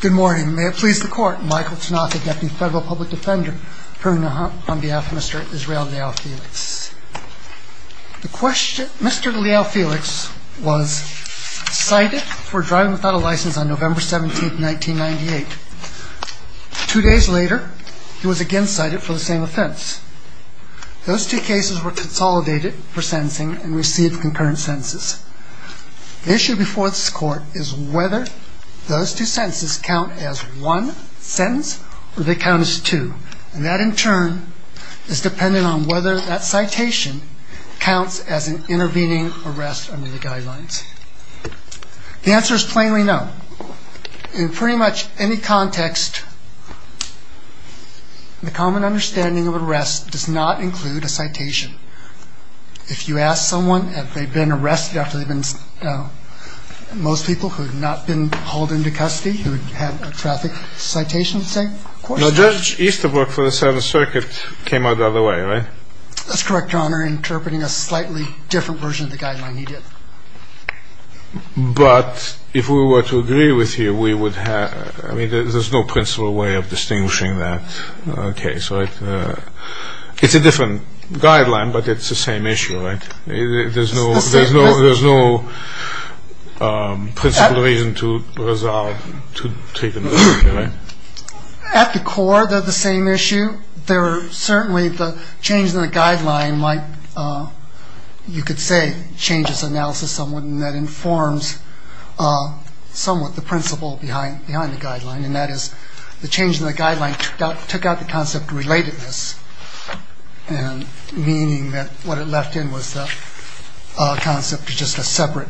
Good morning. May it please the court, Michael Tanaka, Deputy Federal Public Defender, presenting on behalf of Mr. Israel Leal-Felix. Mr. Leal-Felix was cited for driving without a license on November 17, 1998. Two days later, he was again cited for the same offense. Those two cases were consolidated for sentencing and received concurrent sentences. The issue before this court is whether those two sentences count as one sentence or they count as two. And that, in turn, is dependent on whether that citation counts as an intervening arrest under the guidelines. The answer is plainly no. In pretty much any context, the common understanding of an arrest does not include a citation. If you ask someone if they've been arrested after they've been, you know, most people who have not been hauled into custody, who have had a traffic citation, say, of course they have. Now, Judge Easterbrook for the Seventh Circuit came out the other way, right? That's correct, Your Honor, interpreting a slightly different version of the guideline he did. But if we were to agree with you, we would have, I mean, there's no principal way of distinguishing that case, right? It's a different guideline, but it's the same issue, right? There's no principal reason to resolve to take another case, right? At the core, they're the same issue. Certainly, the change in the guideline might, you could say, change its analysis somewhat, and that is the change in the guideline took out the concept of relatedness, meaning that what it left in was the concept of just a separate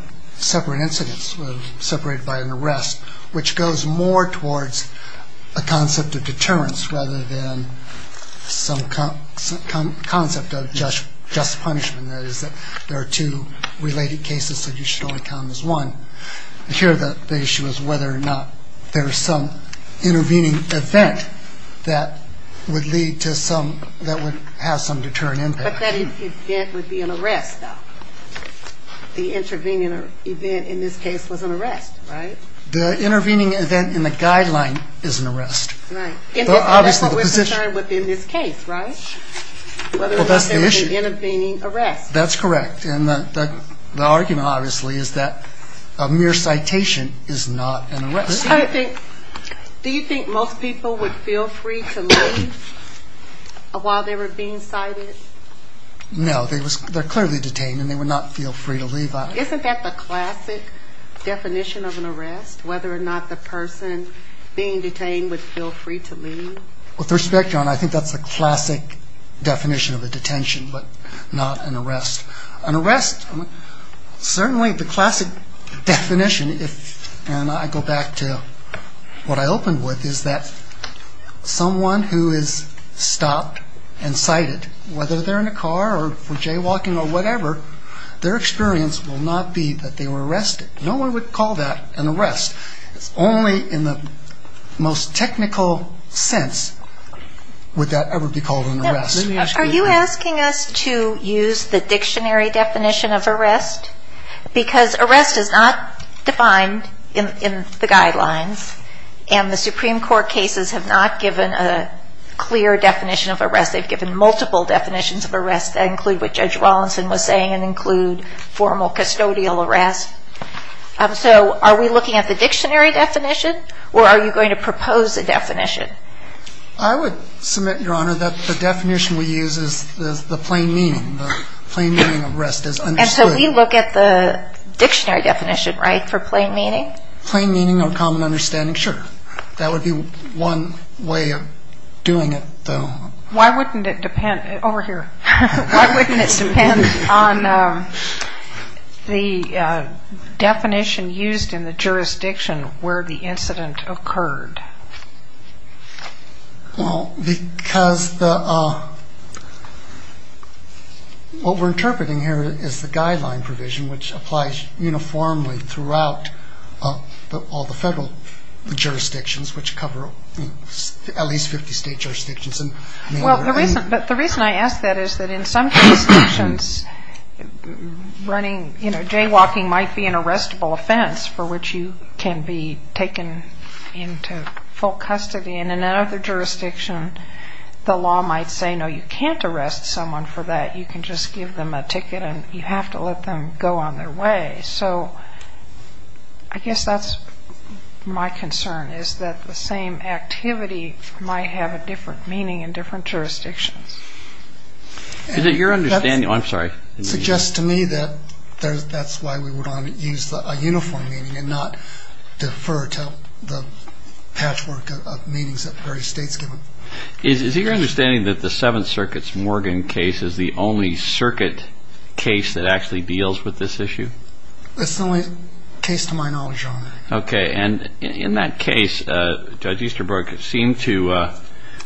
incident separated by an arrest, which goes more towards a concept of deterrence rather than some concept of just punishment, that is that there are two related cases, so you should only count them as one. Here, the issue is whether or not there's some intervening event that would lead to some, that would have some deterrent impact. But that event would be an arrest, though. The intervening event in this case was an arrest, right? The intervening event in the guideline is an arrest. Right. But obviously the position... And that's what we're concerned with in this case, right? Well, that's the issue. Whether or not there was an intervening arrest. That's correct. And the argument, obviously, is that a mere citation is not an arrest. Do you think most people would feel free to leave while they were being cited? No. They're clearly detained, and they would not feel free to leave. Isn't that the classic definition of an arrest, whether or not the person being detained would feel free to leave? With respect, John, I think that's the classic definition of a detention, but not an arrest. An arrest, certainly the classic definition, and I go back to what I opened with, is that someone who is stopped and cited, whether they're in a car or for jaywalking or whatever, their experience will not be that they were arrested. No one would call that an arrest. Only in the most technical sense would that ever be called an arrest. Are you asking us to use the dictionary definition of arrest? Because arrest is not defined in the guidelines, and the Supreme Court cases have not given a clear definition of arrest. They've given multiple definitions of arrest that include what Judge Rawlinson was saying and include formal custodial arrest. So are we looking at the dictionary definition, or are you going to propose a definition? I would submit, Your Honor, that the definition we use is the plain meaning. The plain meaning of arrest is understood. And so we look at the dictionary definition, right, for plain meaning? Plain meaning or common understanding, sure. That would be one way of doing it, though. Why wouldn't it depend on the definition used in the jurisdiction where the incident occurred? Because what we're interpreting here is the guideline provision, which applies uniformly throughout all the federal jurisdictions, which cover at least 50 state jurisdictions. Well, the reason I ask that is that in some jurisdictions running, you know, jaywalking might be an arrestable offense for which you can be taken into full custody. And in another jurisdiction, the law might say, no, you can't arrest someone for that. You can just give them a ticket, and you have to let them go on their way. So I guess that's my concern, is that the same activity might have a different meaning in different jurisdictions. Is it your understanding? I'm sorry. It suggests to me that that's why we would want to use a uniform meaning and not defer to the patchwork of meanings that various states give them. Is it your understanding that the Seventh Circuit's Morgan case is the only circuit case that actually deals with this issue? That's the only case to my knowledge, Your Honor. Okay. And in that case, Judge Easterbrook seemed to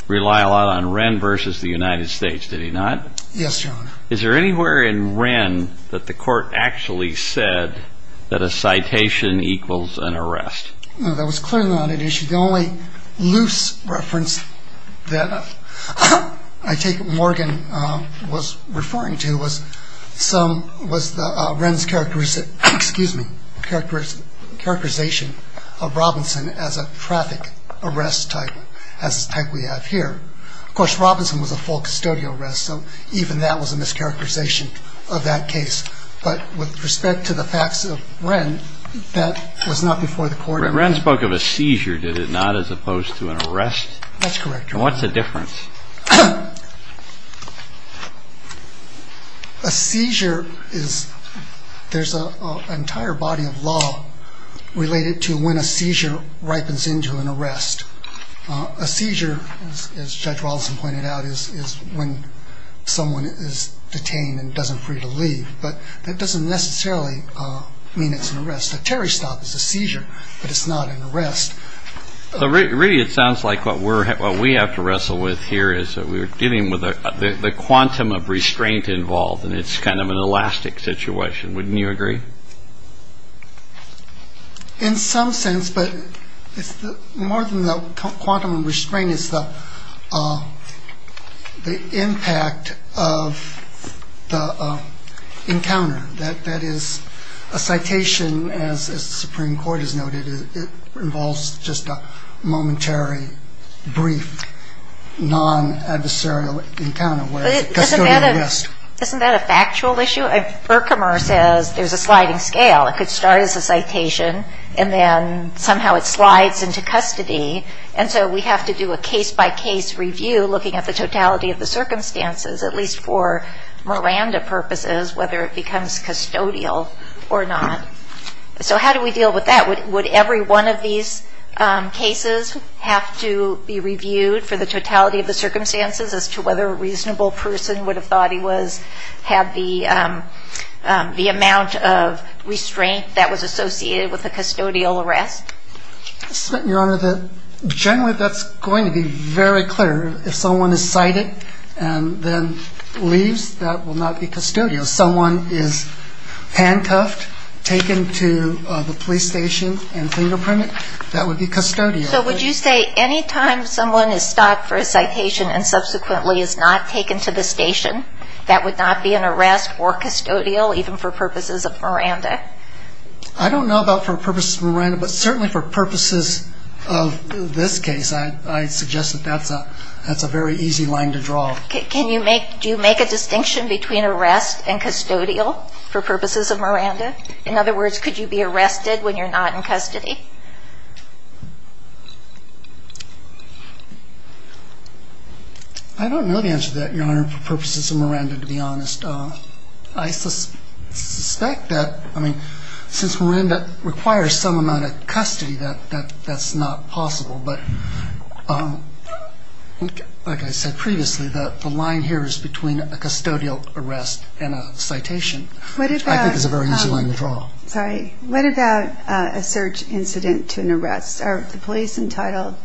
rely a lot on Wren versus the United States. Did he not? Yes, Your Honor. Is there anywhere in Wren that the court actually said that a citation equals an arrest? No, that was clearly not an issue. The only loose reference that I take that Morgan was referring to was Wren's characterization of Robinson as a traffic arrest type, as the type we have here. Of course, Robinson was a full custodial arrest, so even that was a mischaracterization of that case. But with respect to the facts of Wren, that was not before the court. Wren spoke of a seizure, did it not, as opposed to an arrest? That's correct, Your Honor. And what's the difference? A seizure is, there's an entire body of law related to when a seizure ripens into an arrest. A seizure, as Judge Robinson pointed out, is when someone is detained and doesn't free to leave. But that doesn't necessarily mean it's an arrest. A Terry stop is a seizure, but it's not an arrest. Really, it sounds like what we have to wrestle with here is that we're dealing with the quantum of restraint involved, and it's kind of an elastic situation. Wouldn't you agree? In some sense, but more than the quantum of restraint, it's the impact of the encounter. That is, a citation, as the Supreme Court has noted, involves just a momentary, brief, non-adversarial encounter. Isn't that a factual issue? Burkhamer says there's a sliding scale. It could start as a citation, and then somehow it slides into custody, and so we have to do a case-by-case review looking at the totality of the circumstances, at least for Miranda purposes, whether it becomes custodial or not. So how do we deal with that? Would every one of these cases have to be reviewed for the totality of the circumstances as to whether a reasonable person would have thought he had the amount of restraint that was associated with a custodial arrest? Your Honor, generally that's going to be very clear. If someone is cited and then leaves, that will not be custodial. If someone is handcuffed, taken to the police station and fingerprinted, that would be custodial. So would you say any time someone is stopped for a citation and subsequently is not taken to the station, that would not be an arrest or custodial, even for purposes of Miranda? I don't know about for purposes of Miranda, but certainly for purposes of this case, I suggest that that's a very easy line to draw. Do you make a distinction between arrest and custodial for purposes of Miranda? In other words, could you be arrested when you're not in custody? I don't know the answer to that, Your Honor, for purposes of Miranda, to be honest. I suspect that, I mean, since Miranda requires some amount of custody, that's not possible. But like I said previously, the line here is between a custodial arrest and a citation, which I think is a very easy line to draw. Sorry. What about a search incident to an arrest? Are the police entitled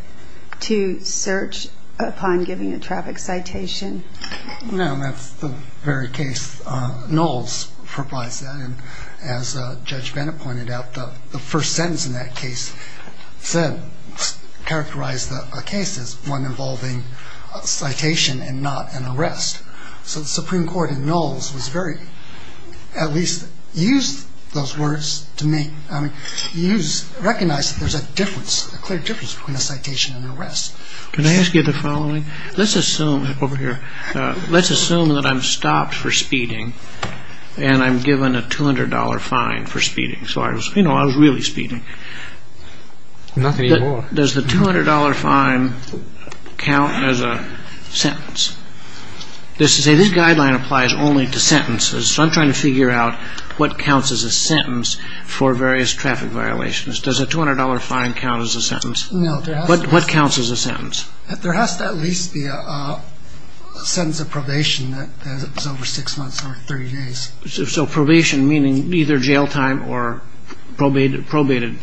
to search upon giving a traffic citation? No, that's the very case. Knowles provides that. And as Judge Bennett pointed out, the first sentence in that case said, characterized the case as one involving a citation and not an arrest. So the Supreme Court in Knowles was very, at least used those words to make, I mean, recognized that there's a difference, a clear difference between a citation and an arrest. Can I ask you the following? Let's assume, over here, let's assume that I'm stopped for speeding and I'm given a $200 fine for speeding. So I was, you know, I was really speeding. Nothing anymore. Does the $200 fine count as a sentence? This guideline applies only to sentences, so I'm trying to figure out what counts as a sentence for various traffic violations. Does a $200 fine count as a sentence? No. What counts as a sentence? There has to at least be a sentence of probation that is over six months or 30 days. So probation meaning either jail time or probation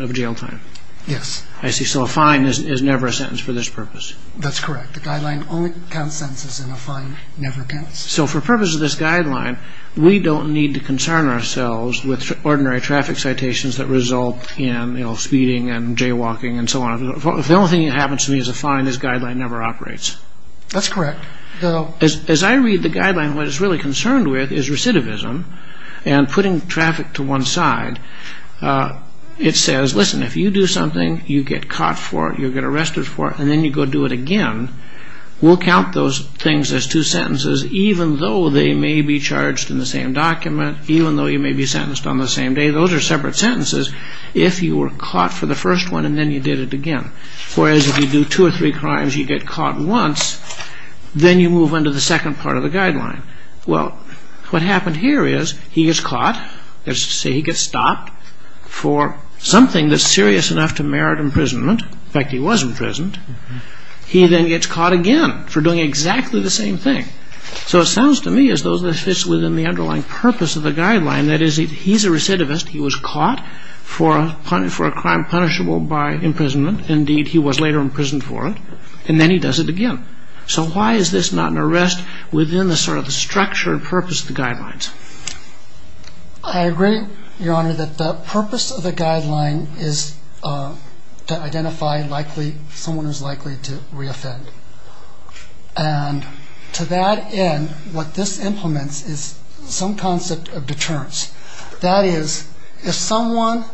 of jail time? Yes. I see. So a fine is never a sentence for this purpose? That's correct. The guideline only counts sentences and a fine never counts. So for purpose of this guideline, we don't need to concern ourselves with ordinary traffic citations that result in, you know, speeding and jaywalking and so on. If the only thing that happens to me is a fine, this guideline never operates. That's correct. As I read the guideline, what it's really concerned with is recidivism and putting traffic to one side. It says, listen, if you do something, you get caught for it, you get arrested for it, and then you go do it again, we'll count those things as two sentences even though they may be charged in the same document, even though you may be sentenced on the same day. Those are separate sentences. If you were caught for the first one and then you did it again. Whereas if you do two or three crimes, you get caught once, then you move on to the second part of the guideline. Well, what happened here is he gets caught, let's say he gets stopped for something that's serious enough to merit imprisonment, in fact, he was imprisoned, he then gets caught again for doing exactly the same thing. So it sounds to me as though this fits within the underlying purpose of the guideline, that is, he's a recidivist, he was caught, for a crime punishable by imprisonment, indeed he was later imprisoned for it, and then he does it again. So why is this not an arrest within the sort of structure and purpose of the guidelines? I agree, Your Honor, that the purpose of the guideline is to identify someone who is likely to reoffend. And to that end, what this implements is some concept of deterrence. That is, if someone,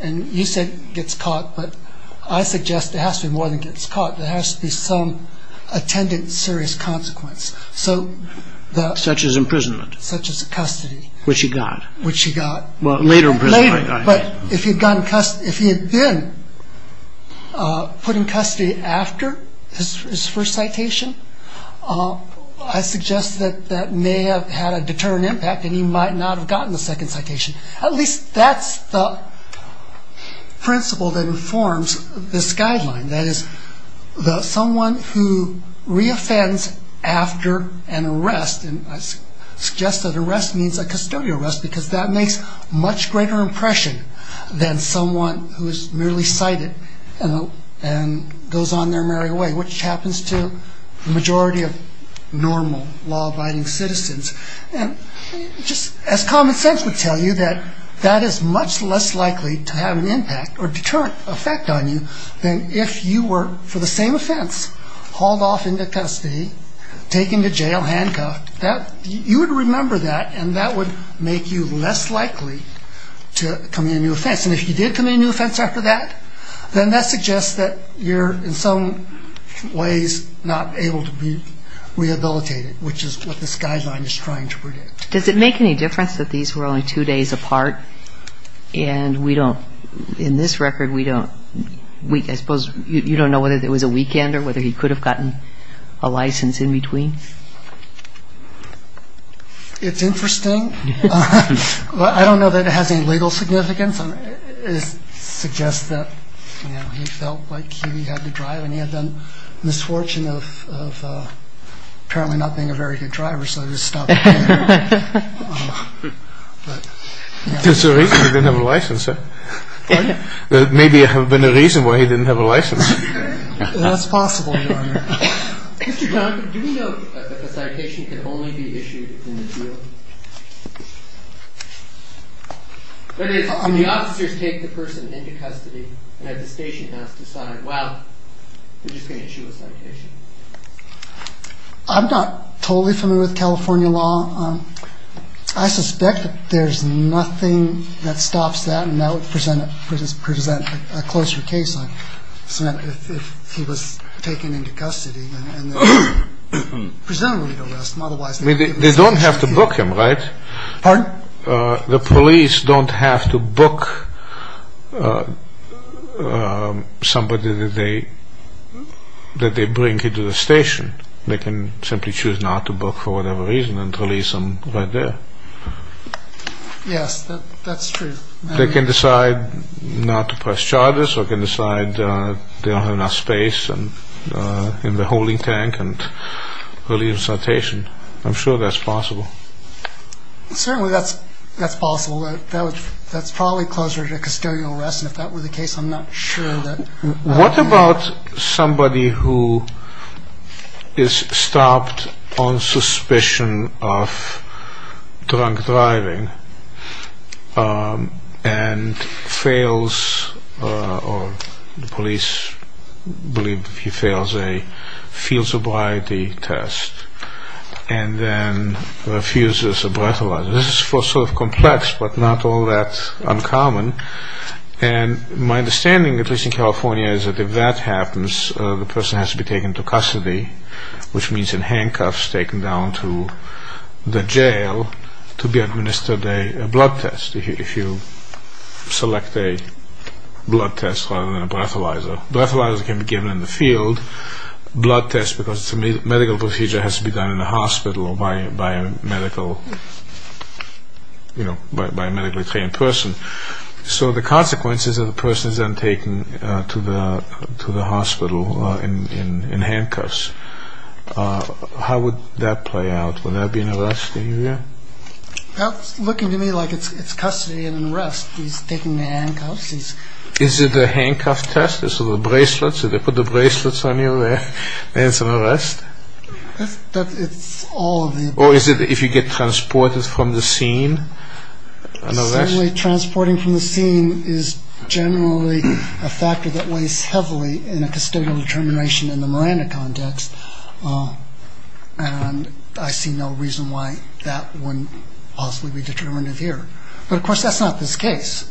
and you said gets caught, but I suggest it has to be more than gets caught, there has to be some attendant serious consequence. Such as imprisonment? Such as custody. Which he got? Which he got. Well, later imprisonment. Later, but if he had been put in custody after his first citation, I suggest that that may have had a deterrent impact, and he might not have gotten the second citation. At least that's the principle that informs this guideline. That is, someone who reoffends after an arrest, and I suggest that arrest means a custodial arrest, because that makes a much greater impression than someone who is merely cited and goes on their merry way. Which happens to the majority of normal law-abiding citizens. And just as common sense would tell you, that that is much less likely to have an impact or deterrent effect on you than if you were, for the same offense, hauled off into custody, taken to jail, handcuffed. You would remember that, and that would make you less likely to commit a new offense. And if you did commit a new offense after that, then that suggests that you're in some ways not able to be rehabilitated, which is what this guideline is trying to predict. Does it make any difference that these were only two days apart, and we don't, in this record, we don't, I suppose you don't know whether it was a weekend or whether he could have gotten a license in between? It's interesting. I don't know that it has any legal significance. It suggests that he felt like he had to drive, and he had the misfortune of apparently not being a very good driver, so he just stopped driving. There's a reason he didn't have a license. Pardon? There may have been a reason why he didn't have a license. That's possible, Your Honor. Mr. Johnson, do we know if a citation could only be issued in the field? If the officers take the person into custody and the station has to decide, well, they're just going to issue a citation. I'm not totally familiar with California law. I suspect that there's nothing that stops that, and that would present a closer case on if he was taken into custody. They don't have to book him, right? Pardon? The police don't have to book somebody that they bring into the station. They can simply choose not to book for whatever reason and release him right there. Yes, that's true. They can decide not to press charges or they can decide they don't have enough space in the holding tank and release the citation. I'm sure that's possible. Certainly that's possible. That's probably closer to custodial arrest, and if that were the case, I'm not sure. What about somebody who is stopped on suspicion of drunk driving and fails or the police believe he fails a field sobriety test and then refuses a breathalyzer? This is sort of complex but not all that uncommon, and my understanding, at least in California, is that if that happens, the person has to be taken into custody, which means in handcuffs taken down to the jail to be administered a blood test if you select a blood test rather than a breathalyzer. Breathalyzers can be given in the field. Blood tests, because it's a medical procedure, has to be done in a hospital by a medically trained person. So the consequences are the person is then taken to the hospital in handcuffs. How would that play out? Would there be an arrest in here? It's looking to me like it's custody and arrest. He's taken in handcuffs. Is it a handcuff test? Is it the bracelets? Do they put the bracelets on you there and it's an arrest? It's all of the above. Or is it if you get transported from the scene, an arrest? Certainly transporting from the scene is generally a factor that weighs heavily in a custodial determination in the Miranda context, and I see no reason why that wouldn't possibly be determinative here. But, of course, that's not this case.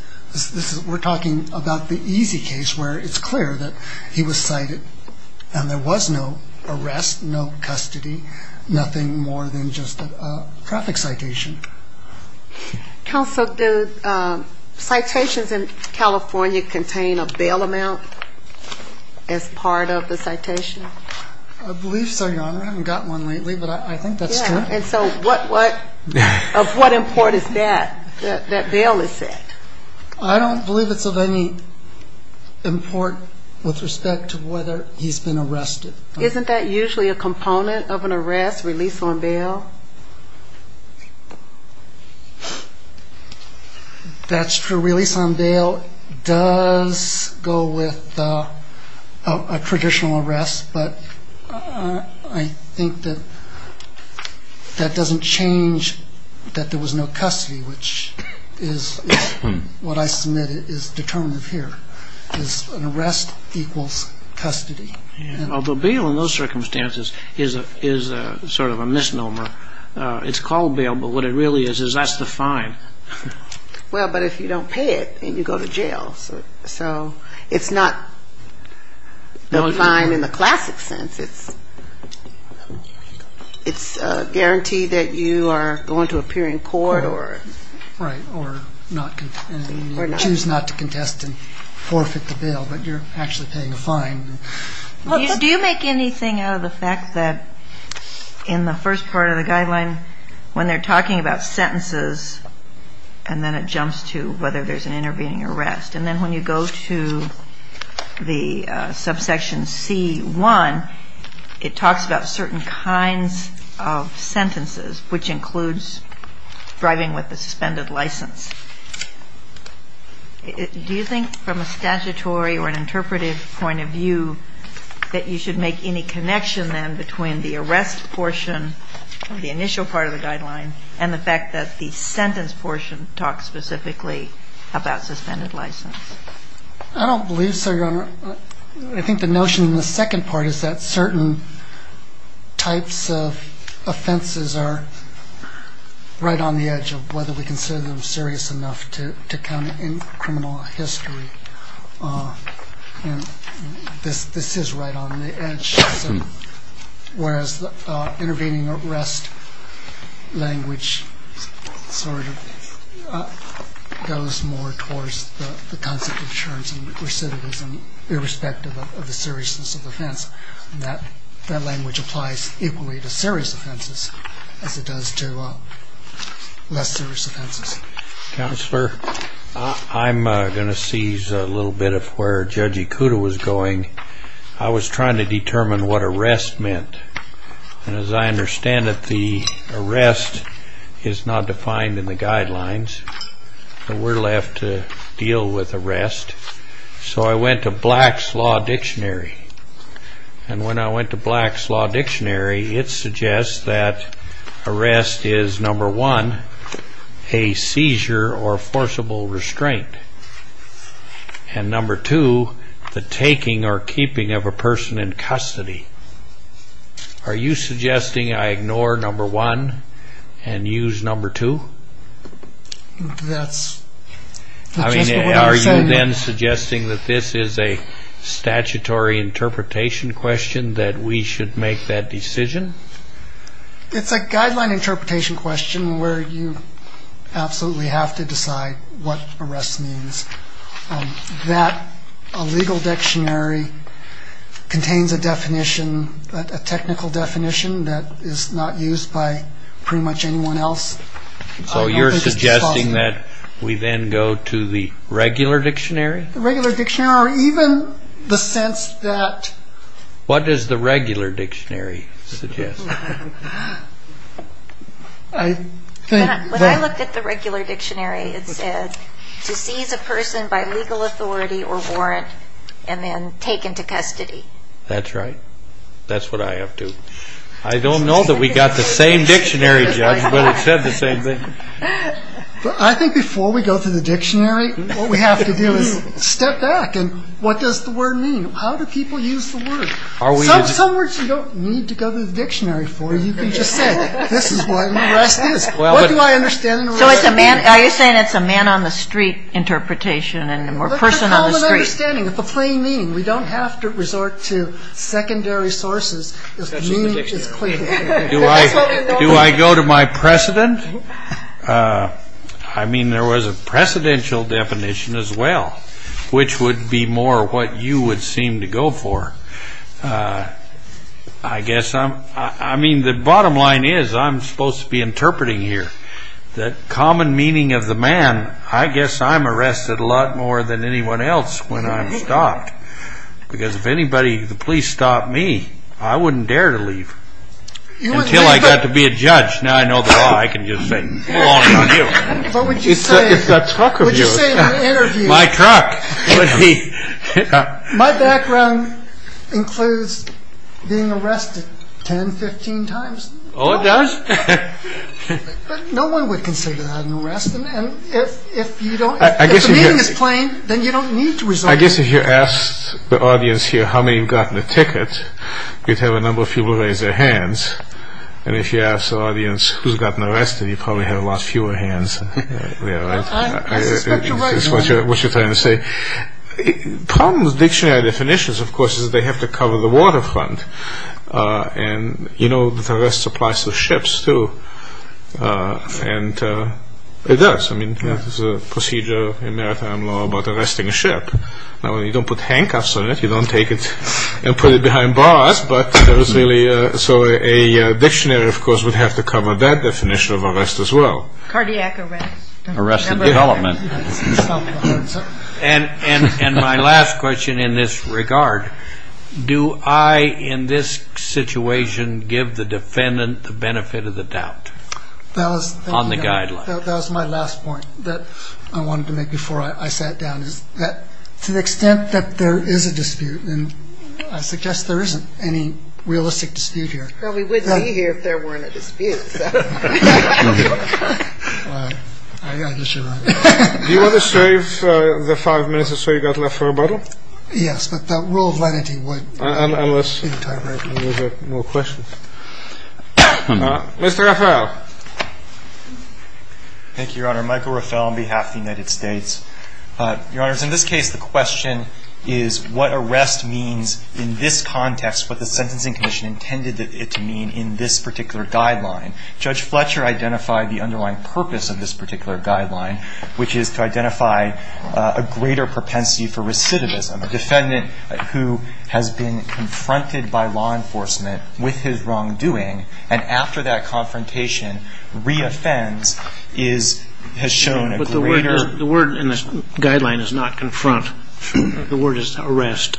We're talking about the easy case where it's clear that he was cited and there was no arrest, no custody, nothing more than just a traffic citation. Counsel, do citations in California contain a bail amount as part of the citation? I believe so, Your Honor. I haven't gotten one lately, but I think that's true. And so of what import is that, that bail is set? I don't believe it's of any import with respect to whether he's been arrested. Isn't that usually a component of an arrest, release on bail? That's true. Release on bail does go with a traditional arrest, but I think that that doesn't change that there was no custody, which is what I submit is determinative here, is an arrest equals custody. Although bail in those circumstances is sort of a misnomer. It's called bail, but what it really is is that's the fine. Well, but if you don't pay it, then you go to jail. So it's not the fine in the classic sense. It's a guarantee that you are going to appear in court or not. You choose not to contest and forfeit the bail, but you're actually paying a fine. Do you make anything out of the fact that in the first part of the guideline, when they're talking about sentences, and then it jumps to whether there's an intervening arrest, and then when you go to the subsection C1, it talks about certain kinds of sentences, which includes driving with a suspended license. Do you think from a statutory or an interpretive point of view that you should make any connection then between the arrest portion of the initial part of the guideline and the fact that the sentence portion talks specifically about suspended license? I don't believe so, Your Honor. I think the notion in the second part is that certain types of offenses are right on the edge of whether we consider them serious enough to count in criminal history. This is right on the edge, whereas the intervening arrest language sort of goes more towards the concept of insurance and recidivism irrespective of the seriousness of offense. That language applies equally to serious offenses as it does to less serious offenses. Counselor, I'm going to seize a little bit of where Judge Ikuda was going. I was trying to determine what arrest meant, and as I understand it, the arrest is not defined in the guidelines, and we're left to deal with arrest. So I went to Black's Law Dictionary, and when I went to Black's Law Dictionary, it suggests that arrest is, number one, a seizure or forcible restraint, and number two, the taking or keeping of a person in custody. Are you suggesting I ignore number one and use number two? That's just what I'm saying. Are you then suggesting that this is a statutory interpretation question, that we should make that decision? It's a guideline interpretation question where you absolutely have to decide what arrest means. That legal dictionary contains a definition, a technical definition that is not used by pretty much anyone else. So you're suggesting that we then go to the regular dictionary? The regular dictionary or even the sense that... What does the regular dictionary suggest? When I looked at the regular dictionary, it said to seize a person by legal authority or warrant and then take into custody. That's right. That's what I have to... I don't know that we got the same dictionary, Judge, but it said the same thing. I think before we go to the dictionary, what we have to do is step back and what does the word mean? How do people use the word? Some words you don't need to go to the dictionary for. You can just say, this is what an arrest is. What do I understand in a regular dictionary? Are you saying it's a man on the street interpretation and a person on the street? It's a common understanding. It's a plain meaning. We don't have to resort to secondary sources. The meaning is clear. Do I go to my precedent? I mean, there was a precedential definition as well, which would be more what you would seem to go for. I guess I'm... I mean, the bottom line is I'm supposed to be interpreting here that common meaning of the man, I guess I'm arrested a lot more than anyone else when I'm stopped because if anybody, the police, stopped me, I wouldn't dare to leave until I got to be a judge. Now I know the law, I can just say, It's a truck of yours. My truck. My background includes being arrested 10, 15 times. Oh, it does? No one would consider that an arrest. If the meaning is plain, then you don't need to resort to... I guess if you asked the audience here how many have gotten a ticket, you'd have a number of people raise their hands. And if you ask the audience who's gotten arrested, you'd probably have a lot fewer hands there, right? I suspect you're right. That's what you're trying to say. The problem with dictionary definitions, of course, is they have to cover the waterfront. And you know that arrest applies to ships, too. And it does. I mean, there's a procedure in maritime law about arresting a ship. Now, you don't put handcuffs on it, you don't take it and put it behind bars, so a dictionary, of course, would have to cover that definition of arrest as well. Cardiac arrest. Arrest and development. And my last question in this regard, do I, in this situation, give the defendant the benefit of the doubt on the guideline? That was my last point that I wanted to make before I sat down, is that to the extent that there is a dispute, and I suggest there isn't any realistic dispute here. Well, we wouldn't be here if there weren't a dispute. I guess you're right. Do you want to save the five minutes or so you've got left for rebuttal? Yes, but the rule of lenity would. Unless you have more questions. Mr. Rafael. Thank you, Your Honor. Michael Rafael on behalf of the United States. Your Honor, in this case the question is what arrest means in this context, what the Sentencing Commission intended it to mean in this particular guideline. Judge Fletcher identified the underlying purpose of this particular guideline, which is to identify a greater propensity for recidivism. A defendant who has been confronted by law enforcement with his wrongdoing and after that confrontation re-offends has shown a greater The word in this guideline is not confront. The word is arrest.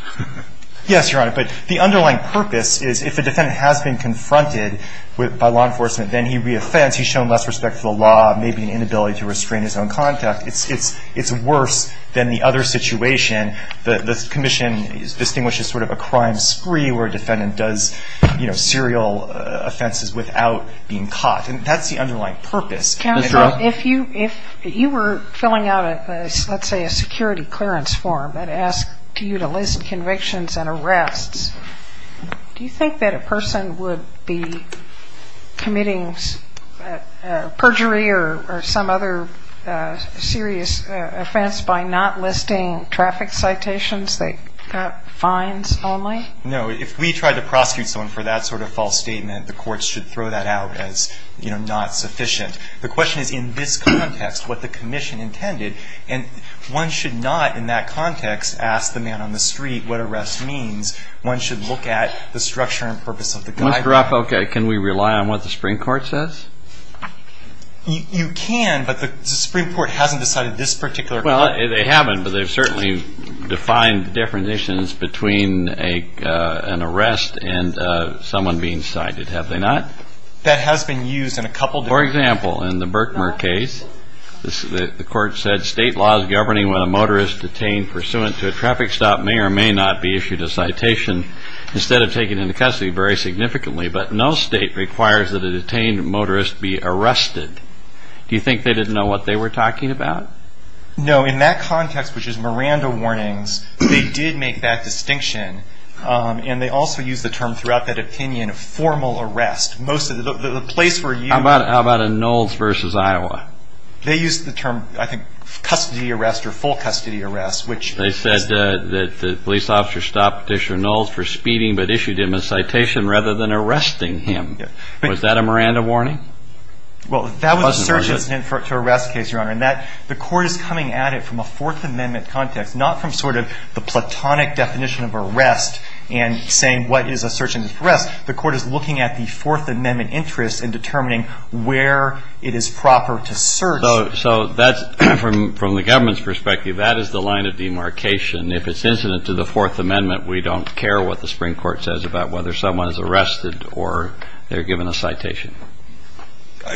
Yes, Your Honor, but the underlying purpose is if a defendant has been confronted by law enforcement, then he re-offends. He's shown less respect for the law, maybe an inability to restrain his own conduct. It's worse than the other situation. The commission distinguishes sort of a crime spree where a defendant does, you know, serial offenses without being caught. And that's the underlying purpose. Justice Sotomayor, if you were filling out, let's say, a security clearance form that asked you to list convictions and arrests, do you think that a person would be committing perjury or some other serious offense by not listing traffic citations that got fines only? No. If we tried to prosecute someone for that sort of false statement, the courts should throw that out as, you know, not sufficient. The question is, in this context, what the commission intended. And one should not, in that context, ask the man on the street what arrest means. One should look at the structure and purpose of the guideline. Mr. Rothfeld, can we rely on what the Supreme Court says? You can, but the Supreme Court hasn't decided this particular point. Well, they haven't, but they've certainly defined definitions between an arrest and someone being cited, have they not? That has been used in a couple different ways. For example, in the Berkmer case, the court said, state laws governing when a motorist detained pursuant to a traffic stop may or may not be issued a citation instead of taken into custody very significantly, but no state requires that a detained motorist be arrested. Do you think they didn't know what they were talking about? No. In that context, which is Miranda warnings, they did make that distinction, and they also used the term throughout that opinion of formal arrest. The place where you ---- How about in Knowles v. Iowa? They used the term, I think, custody arrest or full custody arrest, which ---- They said that the police officer stopped Petitioner Knowles for speeding but issued him a citation rather than arresting him. Was that a Miranda warning? Well, that was a search incident to arrest a case, Your Honor, and the court is coming at it from a Fourth Amendment context, not from sort of the platonic definition of arrest and saying what is a search incident to arrest. The court is looking at the Fourth Amendment interests and determining where it is proper to search. So that's, from the government's perspective, that is the line of demarcation. If it's incident to the Fourth Amendment, we don't care what the Supreme Court says about whether someone is arrested or they're given a citation.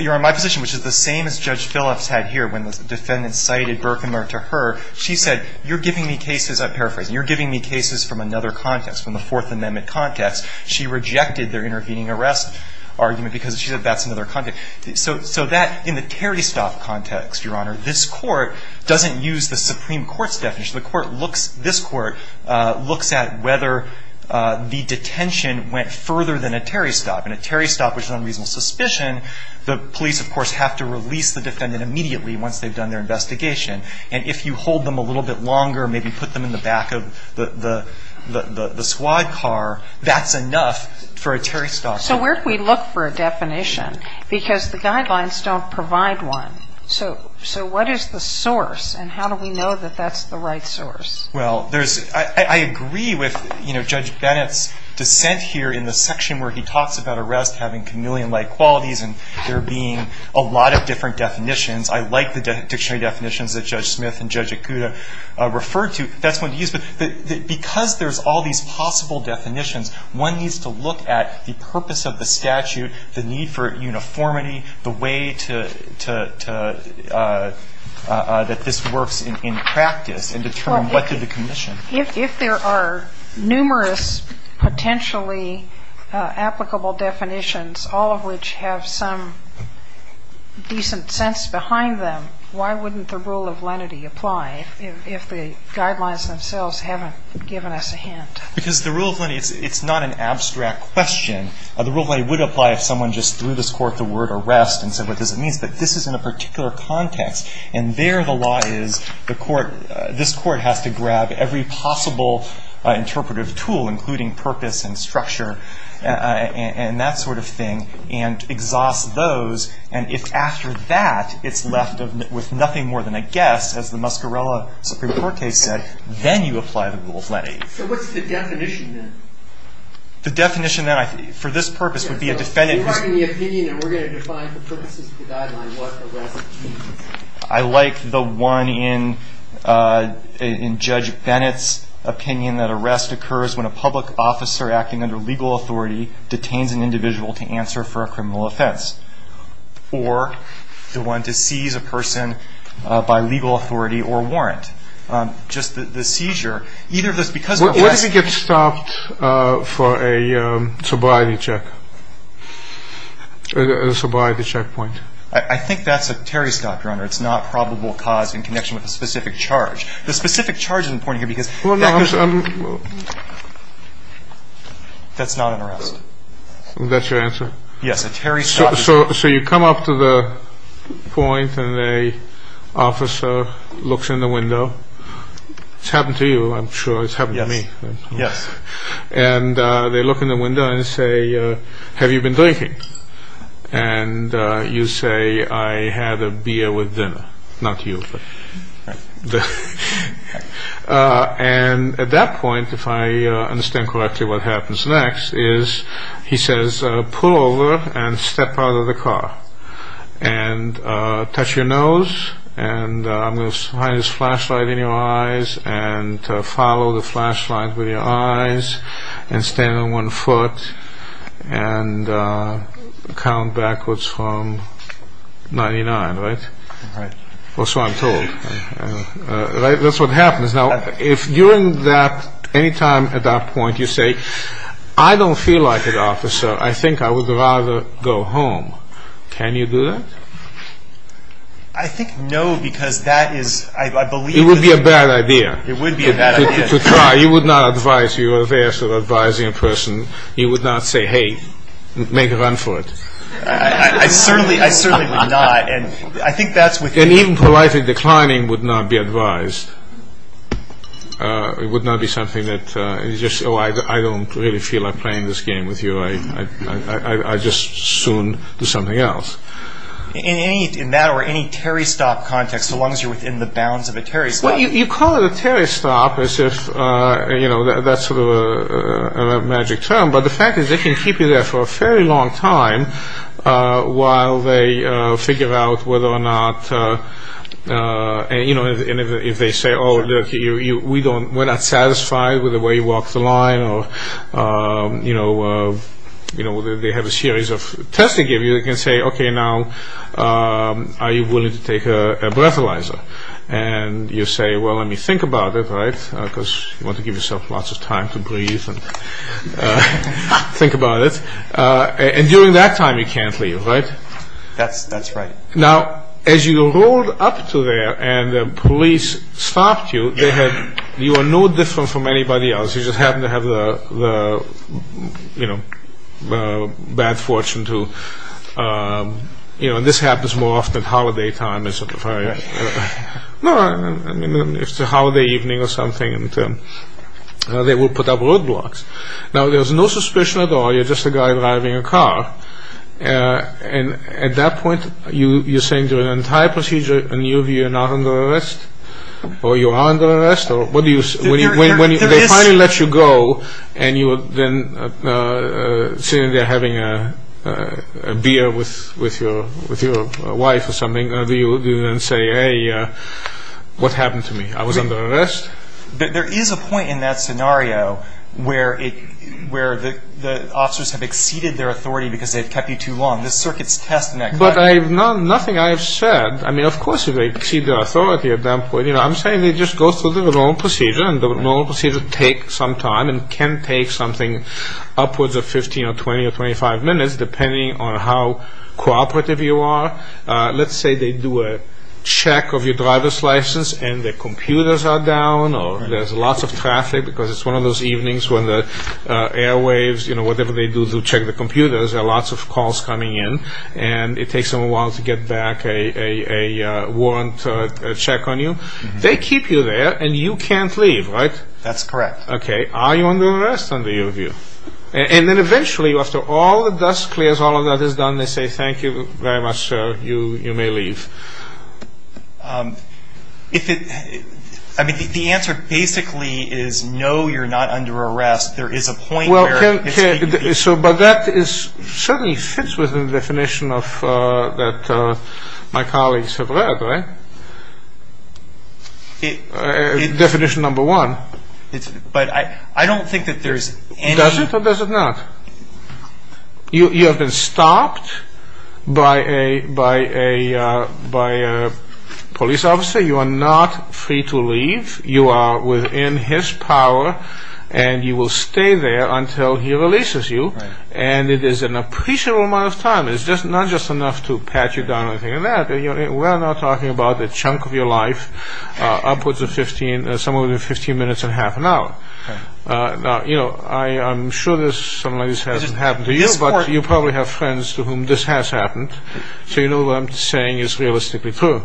Your Honor, my position, which is the same as Judge Phillips had here when the defendant cited Berkmer to her, she said you're giving me cases, I paraphrase, you're giving me cases from another context, from the Fourth Amendment context. She rejected their intervening arrest argument because she said that's another context. So that, in the Terry stop context, Your Honor, this Court doesn't use the Supreme Court's definition. The Court looks, this Court looks at whether the detention went further than a Terry stop, and a Terry stop was an unreasonable suspicion. The police, of course, have to release the defendant immediately once they've done their investigation. And if you hold them a little bit longer, maybe put them in the back of the squad car, that's enough for a Terry stop. So where do we look for a definition? Because the guidelines don't provide one. So what is the source, and how do we know that that's the right source? Well, there's, I agree with, you know, Judge Bennett's dissent here in the section where he talks about arrest having chameleon-like qualities and there being a lot of different definitions. I like the dictionary definitions that Judge Smith and Judge Ikuda referred to. That's one to use. But because there's all these possible definitions, one needs to look at the purpose of the statute, the need for uniformity, the way to, that this works in practice and determine what did the commission. If there are numerous potentially applicable definitions, all of which have some decent sense behind them, why wouldn't the rule of lenity apply if the guidelines themselves haven't given us a hint? Because the rule of lenity, it's not an abstract question. The rule of lenity would apply if someone just threw this court the word arrest and said what this means. But this is in a particular context, and there the law is the court, this court has to grab every possible interpretive tool, including purpose and structure and that sort of thing, and exhaust those. And if after that it's left with nothing more than a guess, as the Muscarella Supreme Court case said, then you apply the rule of lenity. So what's the definition then? The definition then, for this purpose, would be a defendant who's You're writing the opinion and we're going to define the purposes of the guideline what arrest means. I like the one in Judge Bennett's opinion that arrest occurs when a public officer acting under legal authority detains an individual to answer for a criminal offense or the one to seize a person by legal authority or warrant. Just the seizure, either of those, because of the arrest What if he gets stopped for a sobriety check? A sobriety checkpoint? I think that's a terry stop, Your Honor. It's not probable cause in connection with a specific charge. The specific charge is important here because That's not an arrest. That's your answer? Yes, a terry stop. So you come up to the point and the officer looks in the window. It's happened to you, I'm sure. It's happened to me. Yes. And they look in the window and say, have you been drinking? And you say, I had a beer with dinner. Not you. And at that point, if I understand correctly, what happens next is he says, pull over and step out of the car and touch your nose and I'm going to hide this flashlight in your eyes and follow the flashlight with your eyes and stand on one foot and count backwards from 99, right? Right. Or so I'm told. Right? That's what happens. Now, if during that, any time at that point you say, I don't feel like it, officer. I think I would rather go home. Can you do that? I think no because that is, I believe It would be a bad idea. It would be a bad idea. To try. You would not advise. You would advise a person. You would not say, hey, make a run for it. I certainly would not. And even politely declining would not be advised. It would not be something that, oh, I don't really feel like playing this game with you. I'd just soon do something else. In that or any Terry stop context, as long as you're within the bounds of a Terry stop. You call it a Terry stop as if that's sort of a magic term, but the fact is they can keep you there for a fairly long time while they figure out whether or not, and if they say, oh, we're not satisfied with the way you walk the line, or they have a series of tests they give you, they can say, okay, now, are you willing to take a breathalyzer? And you say, well, let me think about it, right, because you want to give yourself lots of time to breathe and think about it. And during that time you can't leave, right? That's right. Now, as you rolled up to there and the police stopped you, you are no different from anybody else. You just happen to have the bad fortune to, and this happens more often at holiday time. It's a holiday evening or something, and they will put up roadblocks. Now, there's no suspicion at all. You're just a guy driving a car. And at that point you're saying to an entire procedure, and either you're not under arrest or you are under arrest, or when they finally let you go and you're sitting there having a beer with your wife or something, do you then say, hey, what happened to me? I was under arrest? There is a point in that scenario where the officers have exceeded their authority because they've kept you too long. This circuit's testing that question. But nothing I have said, I mean, of course they've exceeded their authority at that point. I'm saying they just go through the normal procedure, and the normal procedure takes some time and can take something upwards of 15 or 20 or 25 minutes, depending on how cooperative you are. Let's say they do a check of your driver's license and the computers are down or there's lots of traffic because it's one of those evenings when the airwaves, you know, whatever they do to check the computers, there are lots of calls coming in and it takes them a while to get back a warrant check on you. They keep you there and you can't leave, right? That's correct. Okay. Are you under arrest under your view? And then eventually after all the dust clears, all of that is done, and they say, thank you very much, sir, you may leave. If it, I mean, the answer basically is no, you're not under arrest. There is a point where. Well, but that certainly fits within the definition that my colleagues have read, right? Definition number one. But I don't think that there's any. Does it or does it not? You have been stopped by a police officer. You are not free to leave. You are within his power and you will stay there until he releases you. And it is an appreciable amount of time. It's not just enough to pat you down or anything like that. We're not talking about the chunk of your life upwards of 15, somewhere between 15 minutes and half an hour. Now, you know, I'm sure this, something like this hasn't happened to you, but you probably have friends to whom this has happened, so you know what I'm saying is realistically true.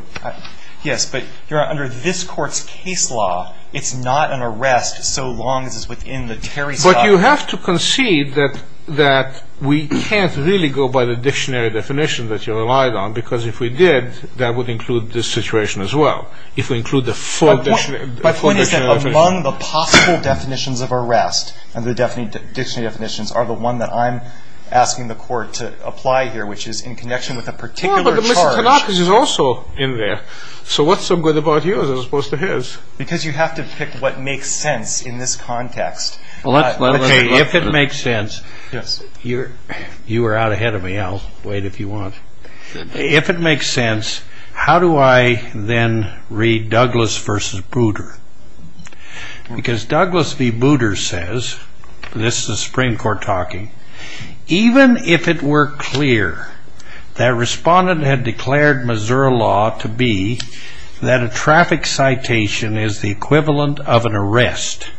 Yes, but you're under this court's case law. It's not an arrest so long as it's within the Terry's power. But you have to concede that we can't really go by the dictionary definition that you relied on, because if we did, that would include this situation as well. If we include the full dictionary. My point is that among the possible definitions of arrest and the dictionary definitions are the one that I'm asking the court to apply here, which is in connection with a particular charge. Well, but Mr. Tanaka's is also in there. So what's so good about yours as opposed to his? Because you have to pick what makes sense in this context. Okay, if it makes sense, you are out ahead of me. I'll wait if you want. If it makes sense, how do I then read Douglas v. Booter? Because Douglas v. Booter says, this is the Supreme Court talking, even if it were clear that respondent had declared Missouri law to be that a traffic citation is the equivalent of an arrest,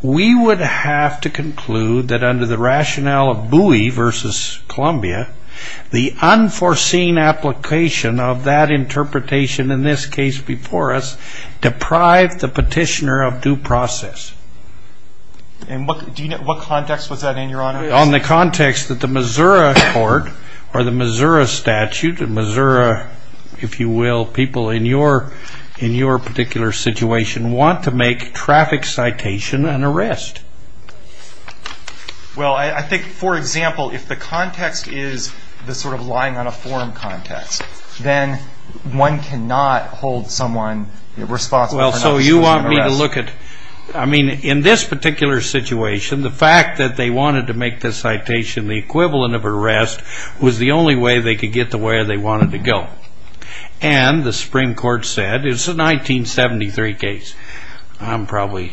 we would have to conclude that under the rationale of Bowie v. Columbia, the unforeseen application of that interpretation in this case before us deprived the petitioner of due process. And what context was that in, Your Honor? On the context that the Missouri court or the Missouri statute, and Missouri, if you will, people in your particular situation, want to make traffic citation an arrest. Well, I think, for example, if the context is the sort of lying on a form context, then one cannot hold someone responsible for an unforeseen arrest. Well, so you want me to look at, I mean, in this particular situation, the fact that they wanted to make this citation the equivalent of an arrest was the only way they could get to where they wanted to go. And the Supreme Court said, it's a 1973 case, I'm probably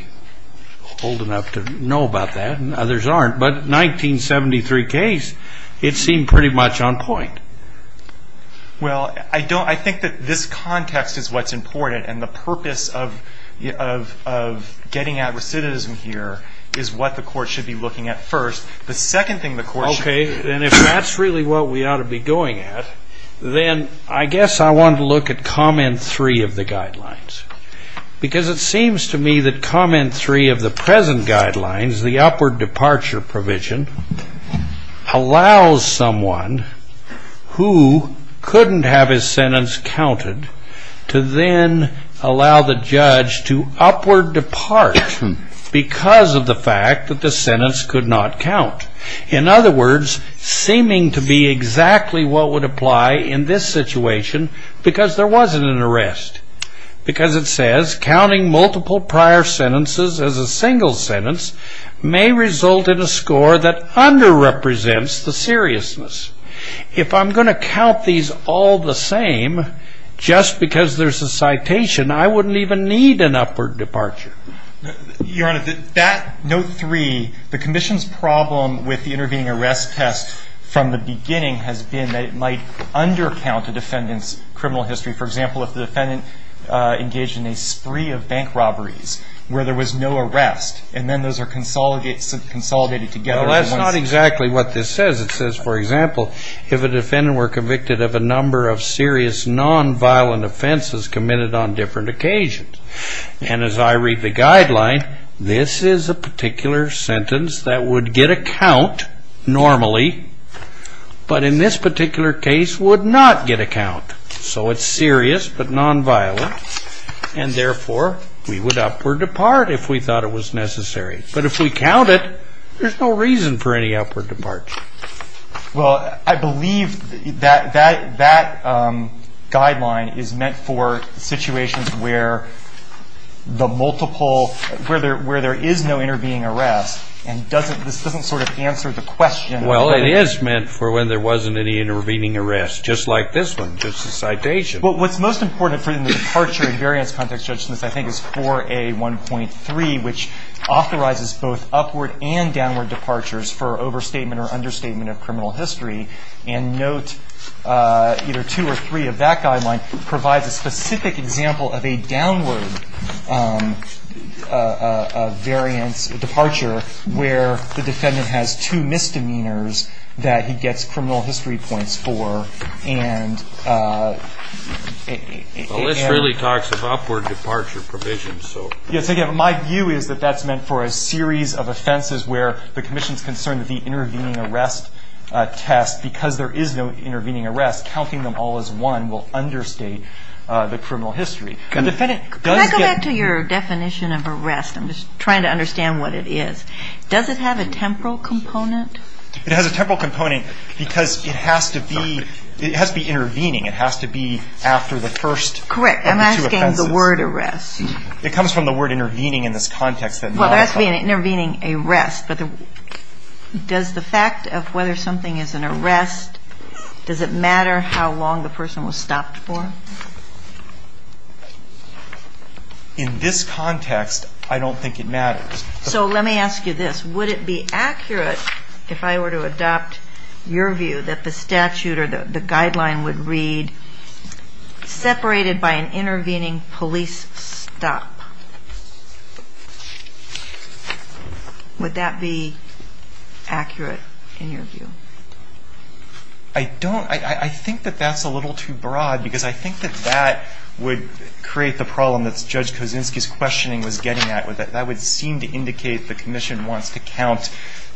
old enough to know about that and others aren't, but 1973 case, it seemed pretty much on point. Well, I think that this context is what's important and the purpose of getting at recidivism here is what the court should be looking at first. The second thing the court should be looking at... Okay, and if that's really what we ought to be going at, then I guess I want to look at comment three of the guidelines. Because it seems to me that comment three of the present guidelines, the upward departure provision, allows someone who couldn't have his sentence counted to then allow the judge to upward depart because of the fact that the sentence could not count. In other words, seeming to be exactly what would apply in this situation because there wasn't an arrest. Because it says, counting multiple prior sentences as a single sentence may result in a score that under-represents the seriousness. If I'm going to count these all the same, just because there's a citation, I wouldn't even need an upward departure. Your Honor, that note three, the Commission's problem with the intervening arrest test from the beginning has been that it might under-count the defendant's criminal history. For example, if the defendant engaged in a spree of bank robberies where there was no arrest, and then those are consolidated together... Well, that's not exactly what this says. It says, for example, if a defendant were convicted of a number of serious non-violent offenses committed on different occasions. And as I read the guideline, this is a particular sentence that would get a count normally, but in this particular case would not get a count. So it's serious but non-violent, and therefore we would upward depart if we thought it was necessary. But if we count it, there's no reason for any upward departure. Well, I believe that guideline is meant for situations where the multiple... where there is no intervening arrest, and this doesn't sort of answer the question... Well, it is meant for when there wasn't any intervening arrest, just like this one, just a citation. Well, what's most important for the departure in variance context judgments, I think, is 4A1.3, which authorizes both upward and downward departures for overstatement or understatement of criminal history. And note, either 2 or 3 of that guideline provides a specific example of a downward variance departure where the defendant has two misdemeanors that he gets criminal history points for and... Well, this really talks of upward departure provisions, so... Yes, again, my view is that that's meant for a series of offenses where the commission's concerned that the intervening arrest test, because there is no intervening arrest, counting them all as one will understate the criminal history. Can I go back to your definition of arrest? I'm just trying to understand what it is. Does it have a temporal component? It has a temporal component because it has to be intervening. It has to be after the first of the two offenses. Correct. I'm asking the word arrest. It comes from the word intervening in this context. Well, there has to be an intervening arrest, but does the fact of whether something is an arrest, does it matter how long the person was stopped for? In this context, I don't think it matters. So let me ask you this. Would it be accurate, if I were to adopt your view, that the statute or the guideline would read separated by an intervening police stop? Would that be accurate in your view? I don't... I think that that's a little too broad because I think that that would create the problem that Judge Kosinski's questioning was getting at. That would seem to indicate the commission wants to count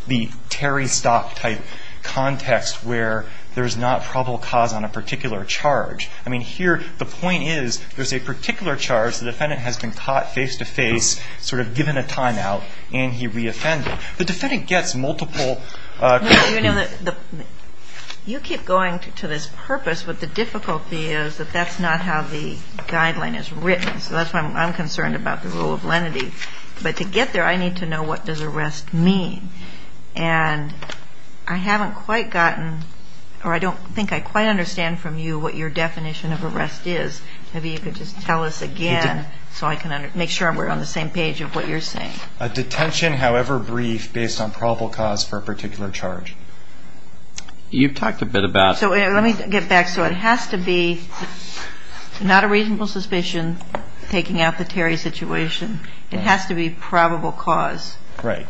the Terry stop type context where there's not probable cause on a particular charge. I mean, here, the point is there's a particular charge. The defendant has been caught face to face, sort of given a timeout, and he reoffended. The defendant gets multiple... You keep going to this purpose, but the difficulty is that that's not how the guideline is written. So that's why I'm concerned about the rule of lenity. But to get there, I need to know what does arrest mean. And I haven't quite gotten... or I don't think I quite understand from you what your definition of arrest is. Maybe you could just tell us again so I can make sure we're on the same page of what you're saying. A detention, however brief, based on probable cause for a particular charge. You've talked a bit about... So let me get back. So it has to be not a reasonable suspicion taking out the Terry situation. It has to be probable cause. Right.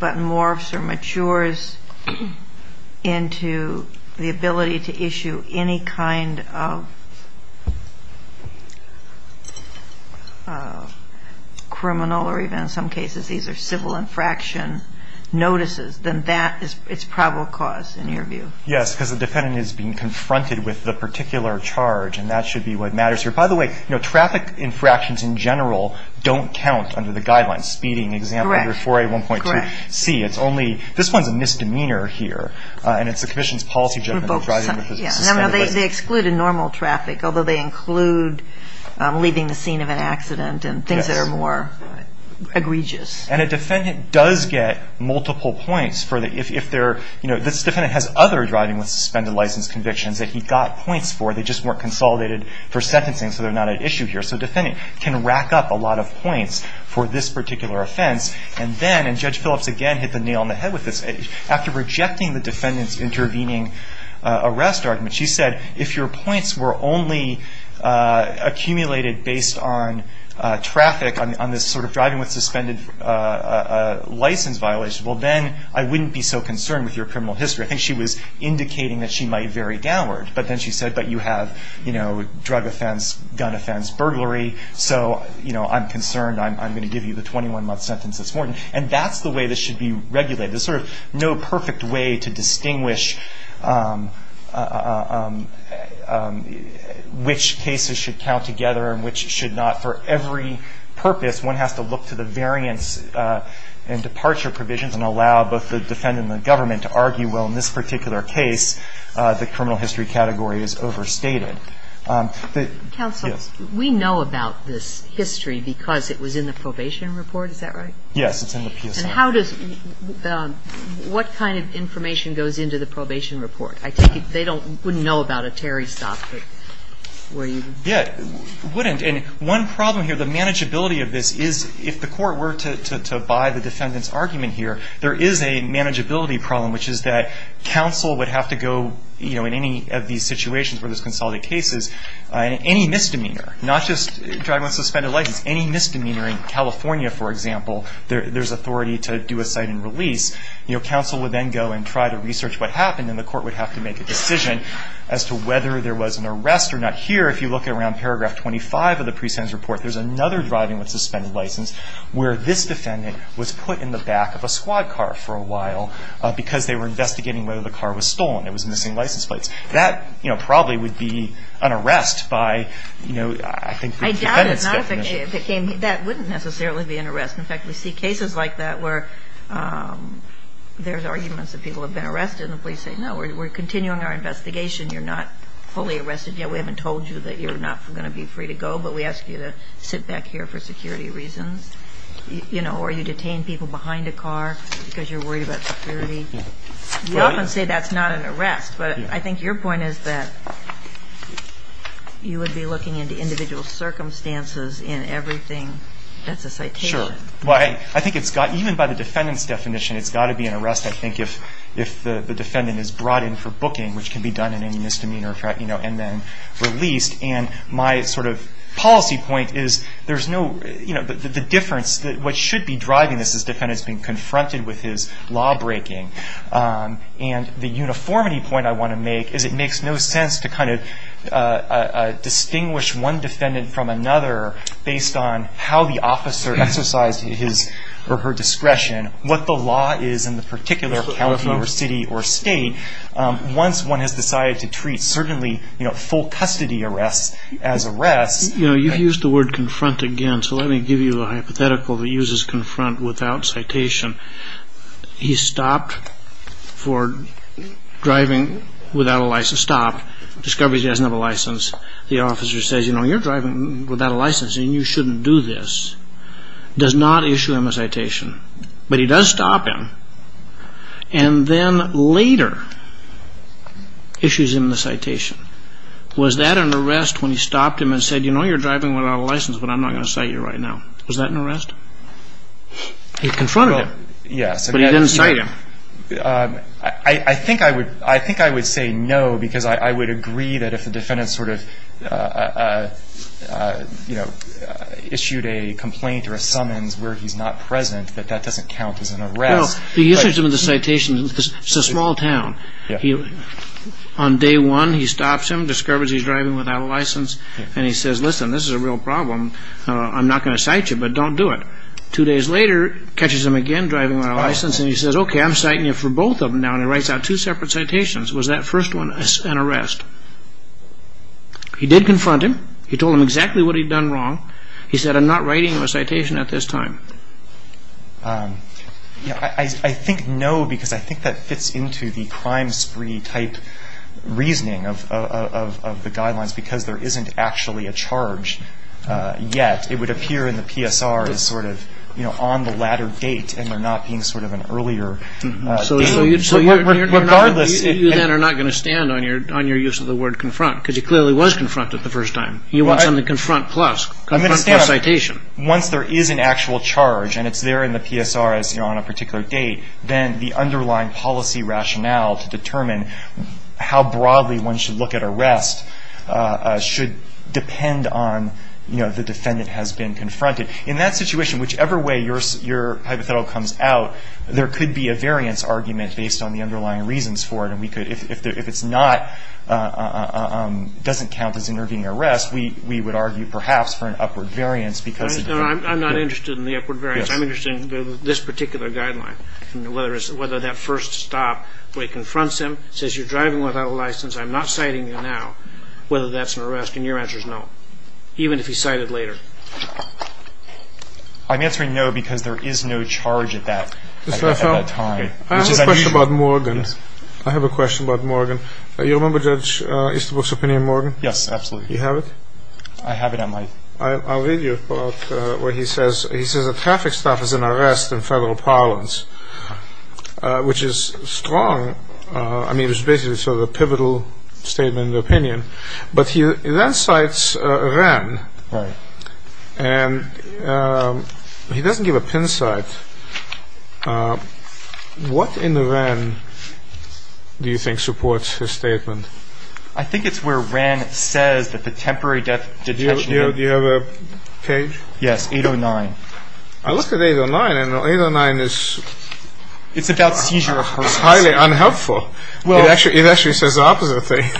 but morphs or matures into the ability to issue any kind of criminal or even in some cases these are civil infraction notices, then that is probable cause in your view. Yes, because the defendant is being confronted with the particular charge, and that should be what matters here. By the way, traffic infractions in general don't count under the guidelines. Speeding example under 4A1.2C. This one's a misdemeanor here, and it's the commission's policy judgment. They exclude in normal traffic, although they include leaving the scene of an accident and things that are more egregious. And a defendant does get multiple points. This defendant has other driving with suspended license convictions that he got points for, they just weren't consolidated for sentencing so they're not at issue here. So a defendant can rack up a lot of points for this particular offense, and then, and Judge Phillips again hit the nail on the head with this, after rejecting the defendant's intervening arrest argument, she said, if your points were only accumulated based on traffic, on this sort of driving with suspended license violation, well, then I wouldn't be so concerned with your criminal history. I think she was indicating that she might vary downward, but then she said, but you have, you know, drug offense, gun offense, burglary, so, you know, I'm concerned, I'm going to give you the 21-month sentence this morning. And that's the way this should be regulated. There's sort of no perfect way to distinguish which cases should count together and which should not. For every purpose, one has to look to the variance and departure provisions and allow both the defendant and the government to argue, well, in this particular case, the criminal history category is overstated. Counsel, we know about this history because it was in the probation report. Is that right? Yes, it's in the PSI. And how does, what kind of information goes into the probation report? I take it they don't, wouldn't know about a Terry stop, but would you? Yeah, wouldn't. And one problem here, the manageability of this is, if the court were to buy the defendant's argument here, there is a manageability problem, which is that counsel would have to go, you know, in any of these situations where there's consolidated cases, any misdemeanor, not just driving with a suspended license, any misdemeanor in California, for example, there's authority to do a cite and release, you know, counsel would then go and try to research what happened and the court would have to make a decision as to whether there was an arrest or not. Here, if you look around paragraph 25 of the presence report, there's another driving with suspended license where this defendant was put in the back of a squad car for a while because they were investigating whether the car was stolen. It was missing license plates. That, you know, probably would be an arrest by, you know, I think the defendant's definition. I doubt it. That wouldn't necessarily be an arrest. In fact, we see cases like that where there's arguments that people have been arrested and the police say, no, we're continuing our investigation. You're not fully arrested yet. We haven't told you that you're not going to be free to go, but we ask you to sit back here for security reasons. You know, or you detain people behind a car because you're worried about security. We often say that's not an arrest, but I think your point is that you would be looking into individual circumstances in everything that's a citation. Sure. Well, I think it's got, even by the defendant's definition, it's got to be an arrest, I think, if the defendant is brought in for booking, which can be done in any misdemeanor, you know, and then released. And my sort of policy point is there's no, you know, the difference that what should be driving this is defendants being confronted with his lawbreaking. And the uniformity point I want to make is it makes no sense to kind of distinguish one defendant from another based on how the officer exercised his or her discretion, what the law is in the particular county or city or state. Once one has decided to treat, certainly, you know, full custody arrests as arrests. You know, you've used the word confront again, so let me give you a hypothetical that uses confront without citation. He stopped for driving without a license. Stop. Discovers he doesn't have a license. The officer says, you know, you're driving without a license and you shouldn't do this. Does not issue him a citation, but he does stop him and then later issues him the citation. Was that an arrest when he stopped him and said, you know, you're driving without a license, but I'm not going to cite you right now? Was that an arrest? He confronted him. But he didn't cite him. I think I would say no because I would agree that if the defendant sort of, you know, issued a complaint or a summons where he's not present, that that doesn't count as an arrest. Well, he issued him the citation. It's a small town. On day one, he stops him, discovers he's driving without a license, and he says, listen, this is a real problem. I'm not going to cite you, but don't do it. Two days later, catches him again driving without a license and he says, okay, I'm citing you for both of them now, and he writes out two separate citations. Was that first one an arrest? He did confront him. He told him exactly what he'd done wrong. He said, I'm not writing you a citation at this time. I think no because I think that fits into the crime spree type reasoning of the guidelines because there isn't actually a charge yet. It would appear in the PSR as sort of, you know, on the latter date and there not being sort of an earlier date. So you then are not going to stand on your use of the word confront because you clearly was confronted the first time. You want something to confront plus, confront plus citation. Once there is an actual charge and it's there in the PSR as on a particular date, then the underlying policy rationale to determine how broadly one should look at arrest should depend on, you know, the defendant has been confronted. In that situation, whichever way your hypothetical comes out, there could be a variance argument based on the underlying reasons for it. If it doesn't count as intervening arrest, we would argue perhaps for an upward variance. I'm not interested in the upward variance. I'm interested in this particular guideline, whether that first stop where he confronts him, says you're driving without a license, I'm not citing you now, whether that's an arrest. And your answer is no, even if he cited later. I'm answering no because there is no charge at that time. I have a question about Morgan. I have a question about Morgan. You remember Judge Easterbrook's opinion on Morgan? Yes, absolutely. Do you have it? I have it at my… I'll read you a quote where he says, he says a traffic stop is an arrest in federal parlance, which is strong. I mean, it was basically sort of a pivotal statement of opinion. But he then cites Wren. Right. And he doesn't give a pin site. What in Wren do you think supports his statement? I think it's where Wren says that the temporary detention… Do you have a page? Yes, 809. I looked at 809, and 809 is… It's about seizure of persons. It's highly unhelpful. Well… It actually says the opposite thing.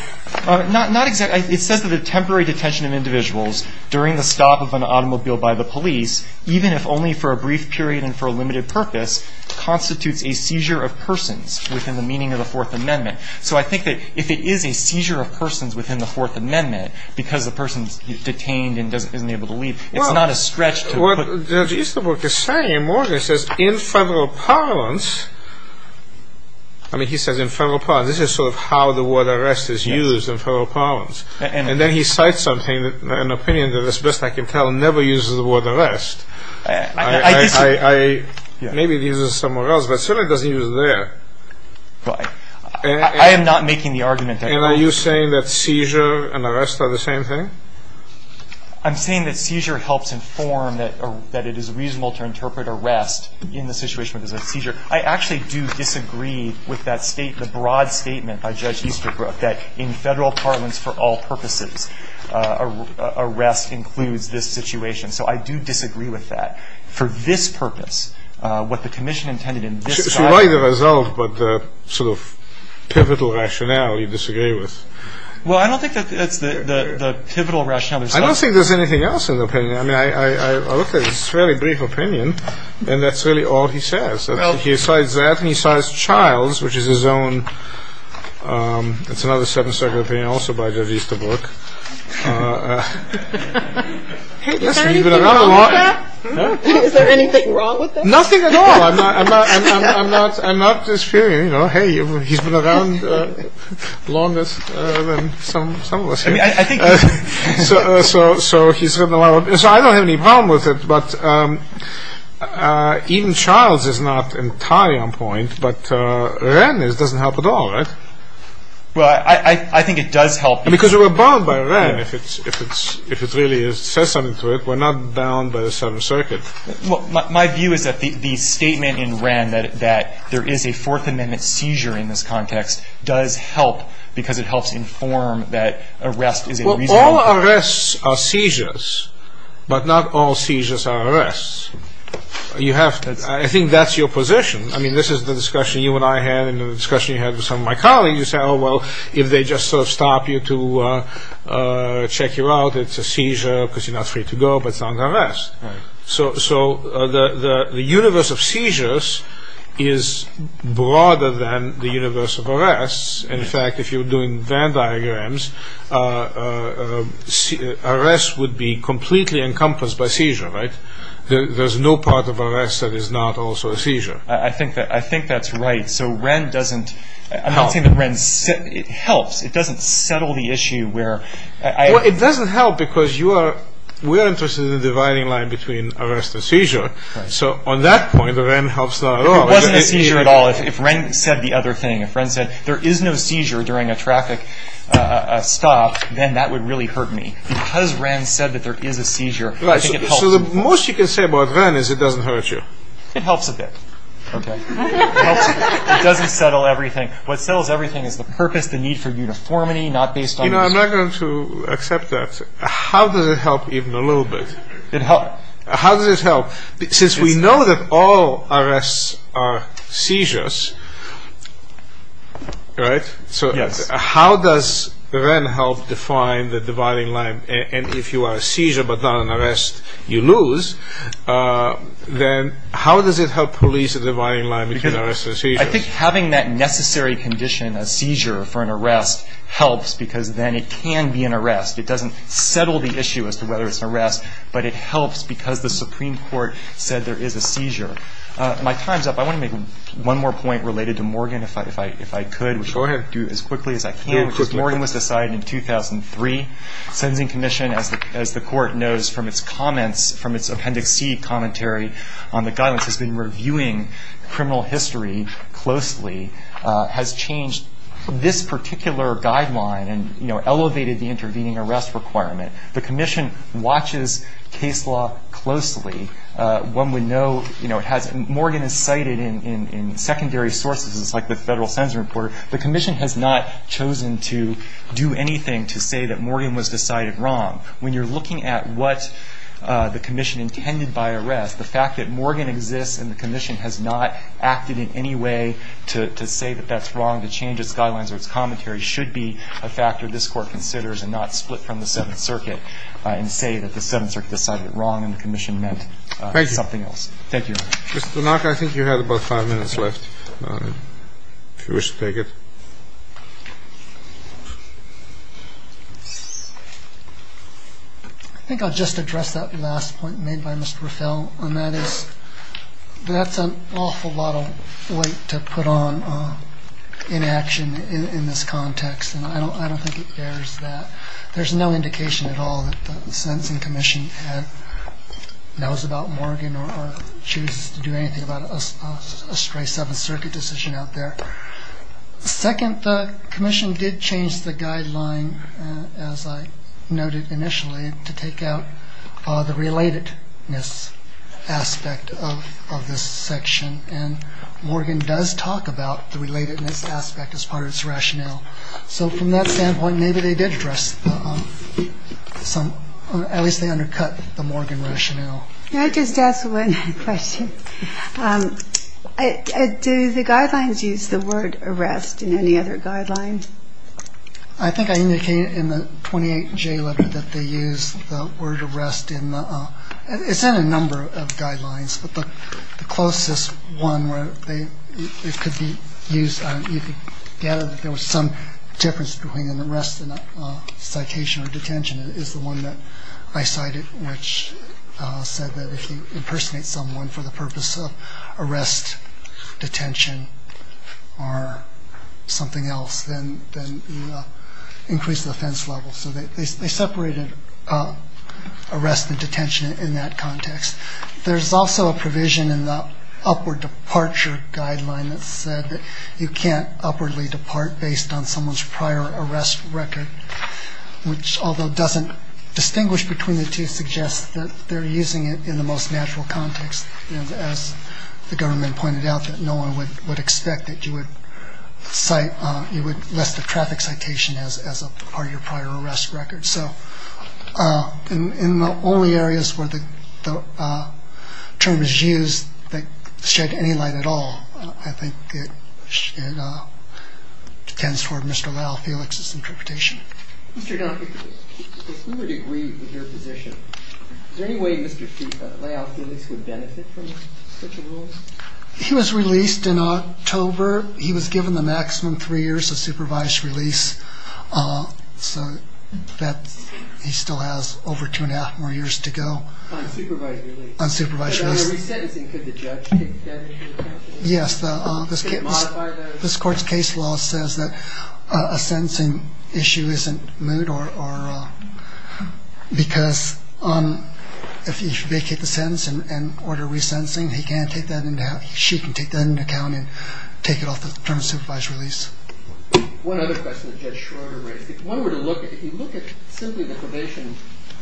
Not exactly. It says that a temporary detention of individuals during the stop of an automobile by the police, even if only for a brief period and for a limited purpose, constitutes a seizure of persons within the meaning of the Fourth Amendment. So I think that if it is a seizure of persons within the Fourth Amendment because a person is detained and isn't able to leave, it's not a stretch to put… Well, what Judge Easterbrook is saying, and Morgan says, in federal parlance… I mean, he says in federal parlance. This is sort of how the word arrest is used in federal parlance. And then he cites something, an opinion that, as best I can tell, never uses the word arrest. I… Maybe it uses it somewhere else, but certainly it doesn't use it there. I am not making the argument that… And are you saying that seizure and arrest are the same thing? I'm saying that seizure helps inform that it is reasonable to interpret arrest in the situation where there's a seizure. I actually do disagree with that statement, the broad statement by Judge Easterbrook, that in federal parlance, for all purposes, arrest includes this situation. So I do disagree with that. For this purpose, what the commission intended in this… It's not the result, but the sort of pivotal rationale you disagree with. Well, I don't think that's the pivotal rationale. I don't think there's anything else in the opinion. I mean, I looked at his fairly brief opinion, and that's really all he says. He cites that, and he cites Childs, which is his own… It's another second opinion also by Judge Easterbrook. Is there anything wrong with that? Is there anything wrong with that? Nothing at all. I'm not just fearing, you know, hey, he's been around longer than some of us here. So he's written a lot of… So I don't have any problem with it, but even Childs is not entirely on point, but Wren doesn't help at all, right? Well, I think it does help. Because we're bound by Wren, if it really says something to it. We're not bound by the Southern Circuit. Well, my view is that the statement in Wren that there is a Fourth Amendment seizure in this context does help because it helps inform that arrest is a reasonable… Well, all arrests are seizures, but not all seizures are arrests. You have to… I think that's your position. I mean, this is the discussion you and I had and the discussion you had with some of my colleagues. You said, oh, well, if they just sort of stop you to check you out, it's a seizure because you're not free to go, but it's not an arrest. Right. So the universe of seizures is broader than the universe of arrests. In fact, if you're doing Venn diagrams, arrests would be completely encompassed by seizure, right? There's no part of arrests that is not also a seizure. I think that's right. So Wren doesn't… I'm not saying that Wren helps. It doesn't settle the issue where… Well, it doesn't help because you are – we are interested in the dividing line between arrest and seizure. So on that point, Wren helps not at all. It wasn't a seizure at all. If Wren said the other thing, if Wren said there is no seizure during a traffic stop, then that would really hurt me. Because Wren said that there is a seizure, I think it helps. Right. So the most you can say about Wren is it doesn't hurt you. It helps a bit. Okay. It helps. It doesn't settle everything. What settles everything is the purpose, the need for uniformity, not based on… You know, I'm not going to accept that. How does it help even a little bit? It helps. How does it help? Since we know that all arrests are seizures, right? Yes. So how does Wren help define the dividing line? And if you are a seizure but not an arrest, you lose. Then how does it help police the dividing line between arrests and seizures? I think having that necessary condition, a seizure for an arrest, helps because then it can be an arrest. It doesn't settle the issue as to whether it's an arrest, but it helps because the Supreme Court said there is a seizure. My time is up. I want to make one more point related to Morgan, if I could. Sure. Do it as quickly as I can. Morgan was decided in 2003. Sentencing Commission, as the Court knows from its comments, from its Appendix C commentary on the guidance, has been reviewing criminal history closely, has changed this particular guideline and, you know, elevated the intervening arrest requirement. The Commission watches case law closely. When we know, you know, it has… Morgan is cited in secondary sources, like the Federal Sentencing Report. The Commission has not chosen to do anything to say that Morgan was decided wrong. When you're looking at what the Commission intended by arrest, the fact that Morgan exists and the Commission has not acted in any way to say that that's wrong, to change its guidelines or its commentary, should be a factor this Court considers and not split from the Seventh Circuit and say that the Seventh Circuit decided it wrong and the Commission meant something else. Thank you. Mr. Tanaka, I think you have about five minutes left, if you wish to take it. I think I'll just address that last point made by Mr. Rafel, and that is that's an awful lot of weight to put on inaction in this context, and I don't think it bears that. There's no indication at all that the Sentencing Commission knows about Morgan or chooses to do anything about a stray Seventh Circuit decision out there. Second, the Commission did change the guideline, as I noted initially, to take out the relatedness aspect of this section, and Morgan does talk about the relatedness aspect as part of its rationale. So from that standpoint, maybe they did address some or at least they undercut the Morgan rationale. May I just ask one question? Sure. Do the guidelines use the word arrest in any other guidelines? I think I indicated in the 28-J letter that they use the word arrest in the ‑‑ it's in a number of guidelines, but the closest one where it could be used, you could gather that there was some difference between an arrest and a citation or detention, is the one that I cited, which said that if you impersonate someone for the purpose of arrest, detention, or something else, then you increase the offense level. So they separated arrest and detention in that context. There's also a provision in the upward departure guideline that said that you can't upwardly depart based on someone's prior arrest record, which, although doesn't distinguish between the two, suggests that they're using it in the most natural context, and as the government pointed out that no one would expect that you would cite, you would list a traffic citation as part of your prior arrest record. So in the only areas where the term is used that shed any light at all, I think it tends toward Mr. Leal-Felix's interpretation. Mr. Duncan, if we would agree with your position, is there any way Mr. Leal-Felix would benefit from such a rule? He was released in October. He was given the maximum three years of supervised release, so he still has over two and a half more years to go. On supervised release? On supervised release. But on a resentencing, could the judge take that into account? Yes, this court's case law says that a sentencing issue isn't moot because if you vacate the sentence and order resentencing, he can take that into account and take it off the term of supervised release. One other question that Judge Schroeder raised. If you look at simply the probation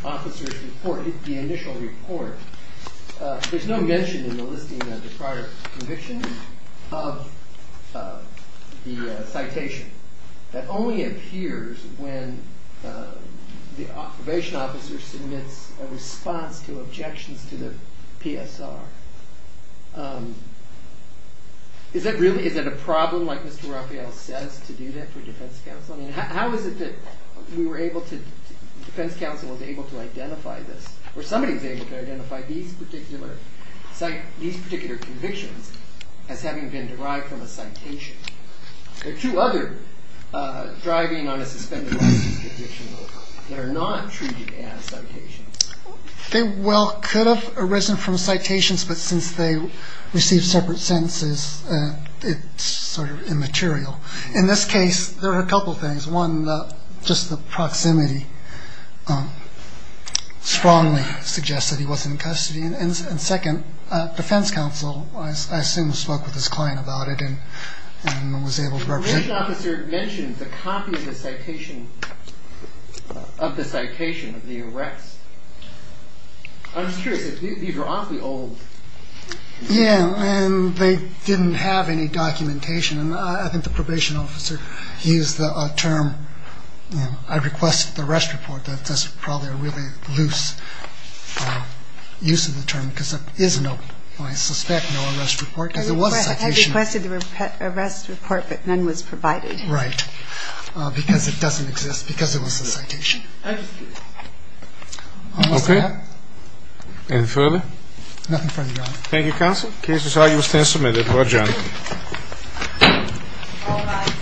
officer's report, the initial report, there's no mention in the listing of the prior conviction of the citation. That only appears when the probation officer submits a response to objections to the PSR. Is that a problem, like Mr. Raphael says, to do that for defense counsel? How is it that defense counsel is able to identify this? Or somebody is able to identify these particular convictions as having been derived from a citation? There are two other driving on a suspended license conviction law that are not treated as citations. They well could have arisen from citations, but since they receive separate sentences, it's sort of immaterial. In this case, there are a couple of things. One, just the proximity strongly suggests that he was in custody. And second, defense counsel, I assume, spoke with his client about it and was able to represent him. The probation officer mentioned the copy of the citation of the arrest. I'm just curious. These are oddly old. Yeah, and they didn't have any documentation. And I think the probation officer used the term, I request the arrest report. That's probably a really loose use of the term because there is no, I suspect, no arrest report because there was a citation. I requested the arrest report, but none was provided. Right. Because it doesn't exist, because it was a citation. Thank you. Okay. Anything further? Nothing further, Your Honor. Thank you, counsel. The case is now U.S. 10 submitted. Thank you. Thank you, Your Honor. All rise.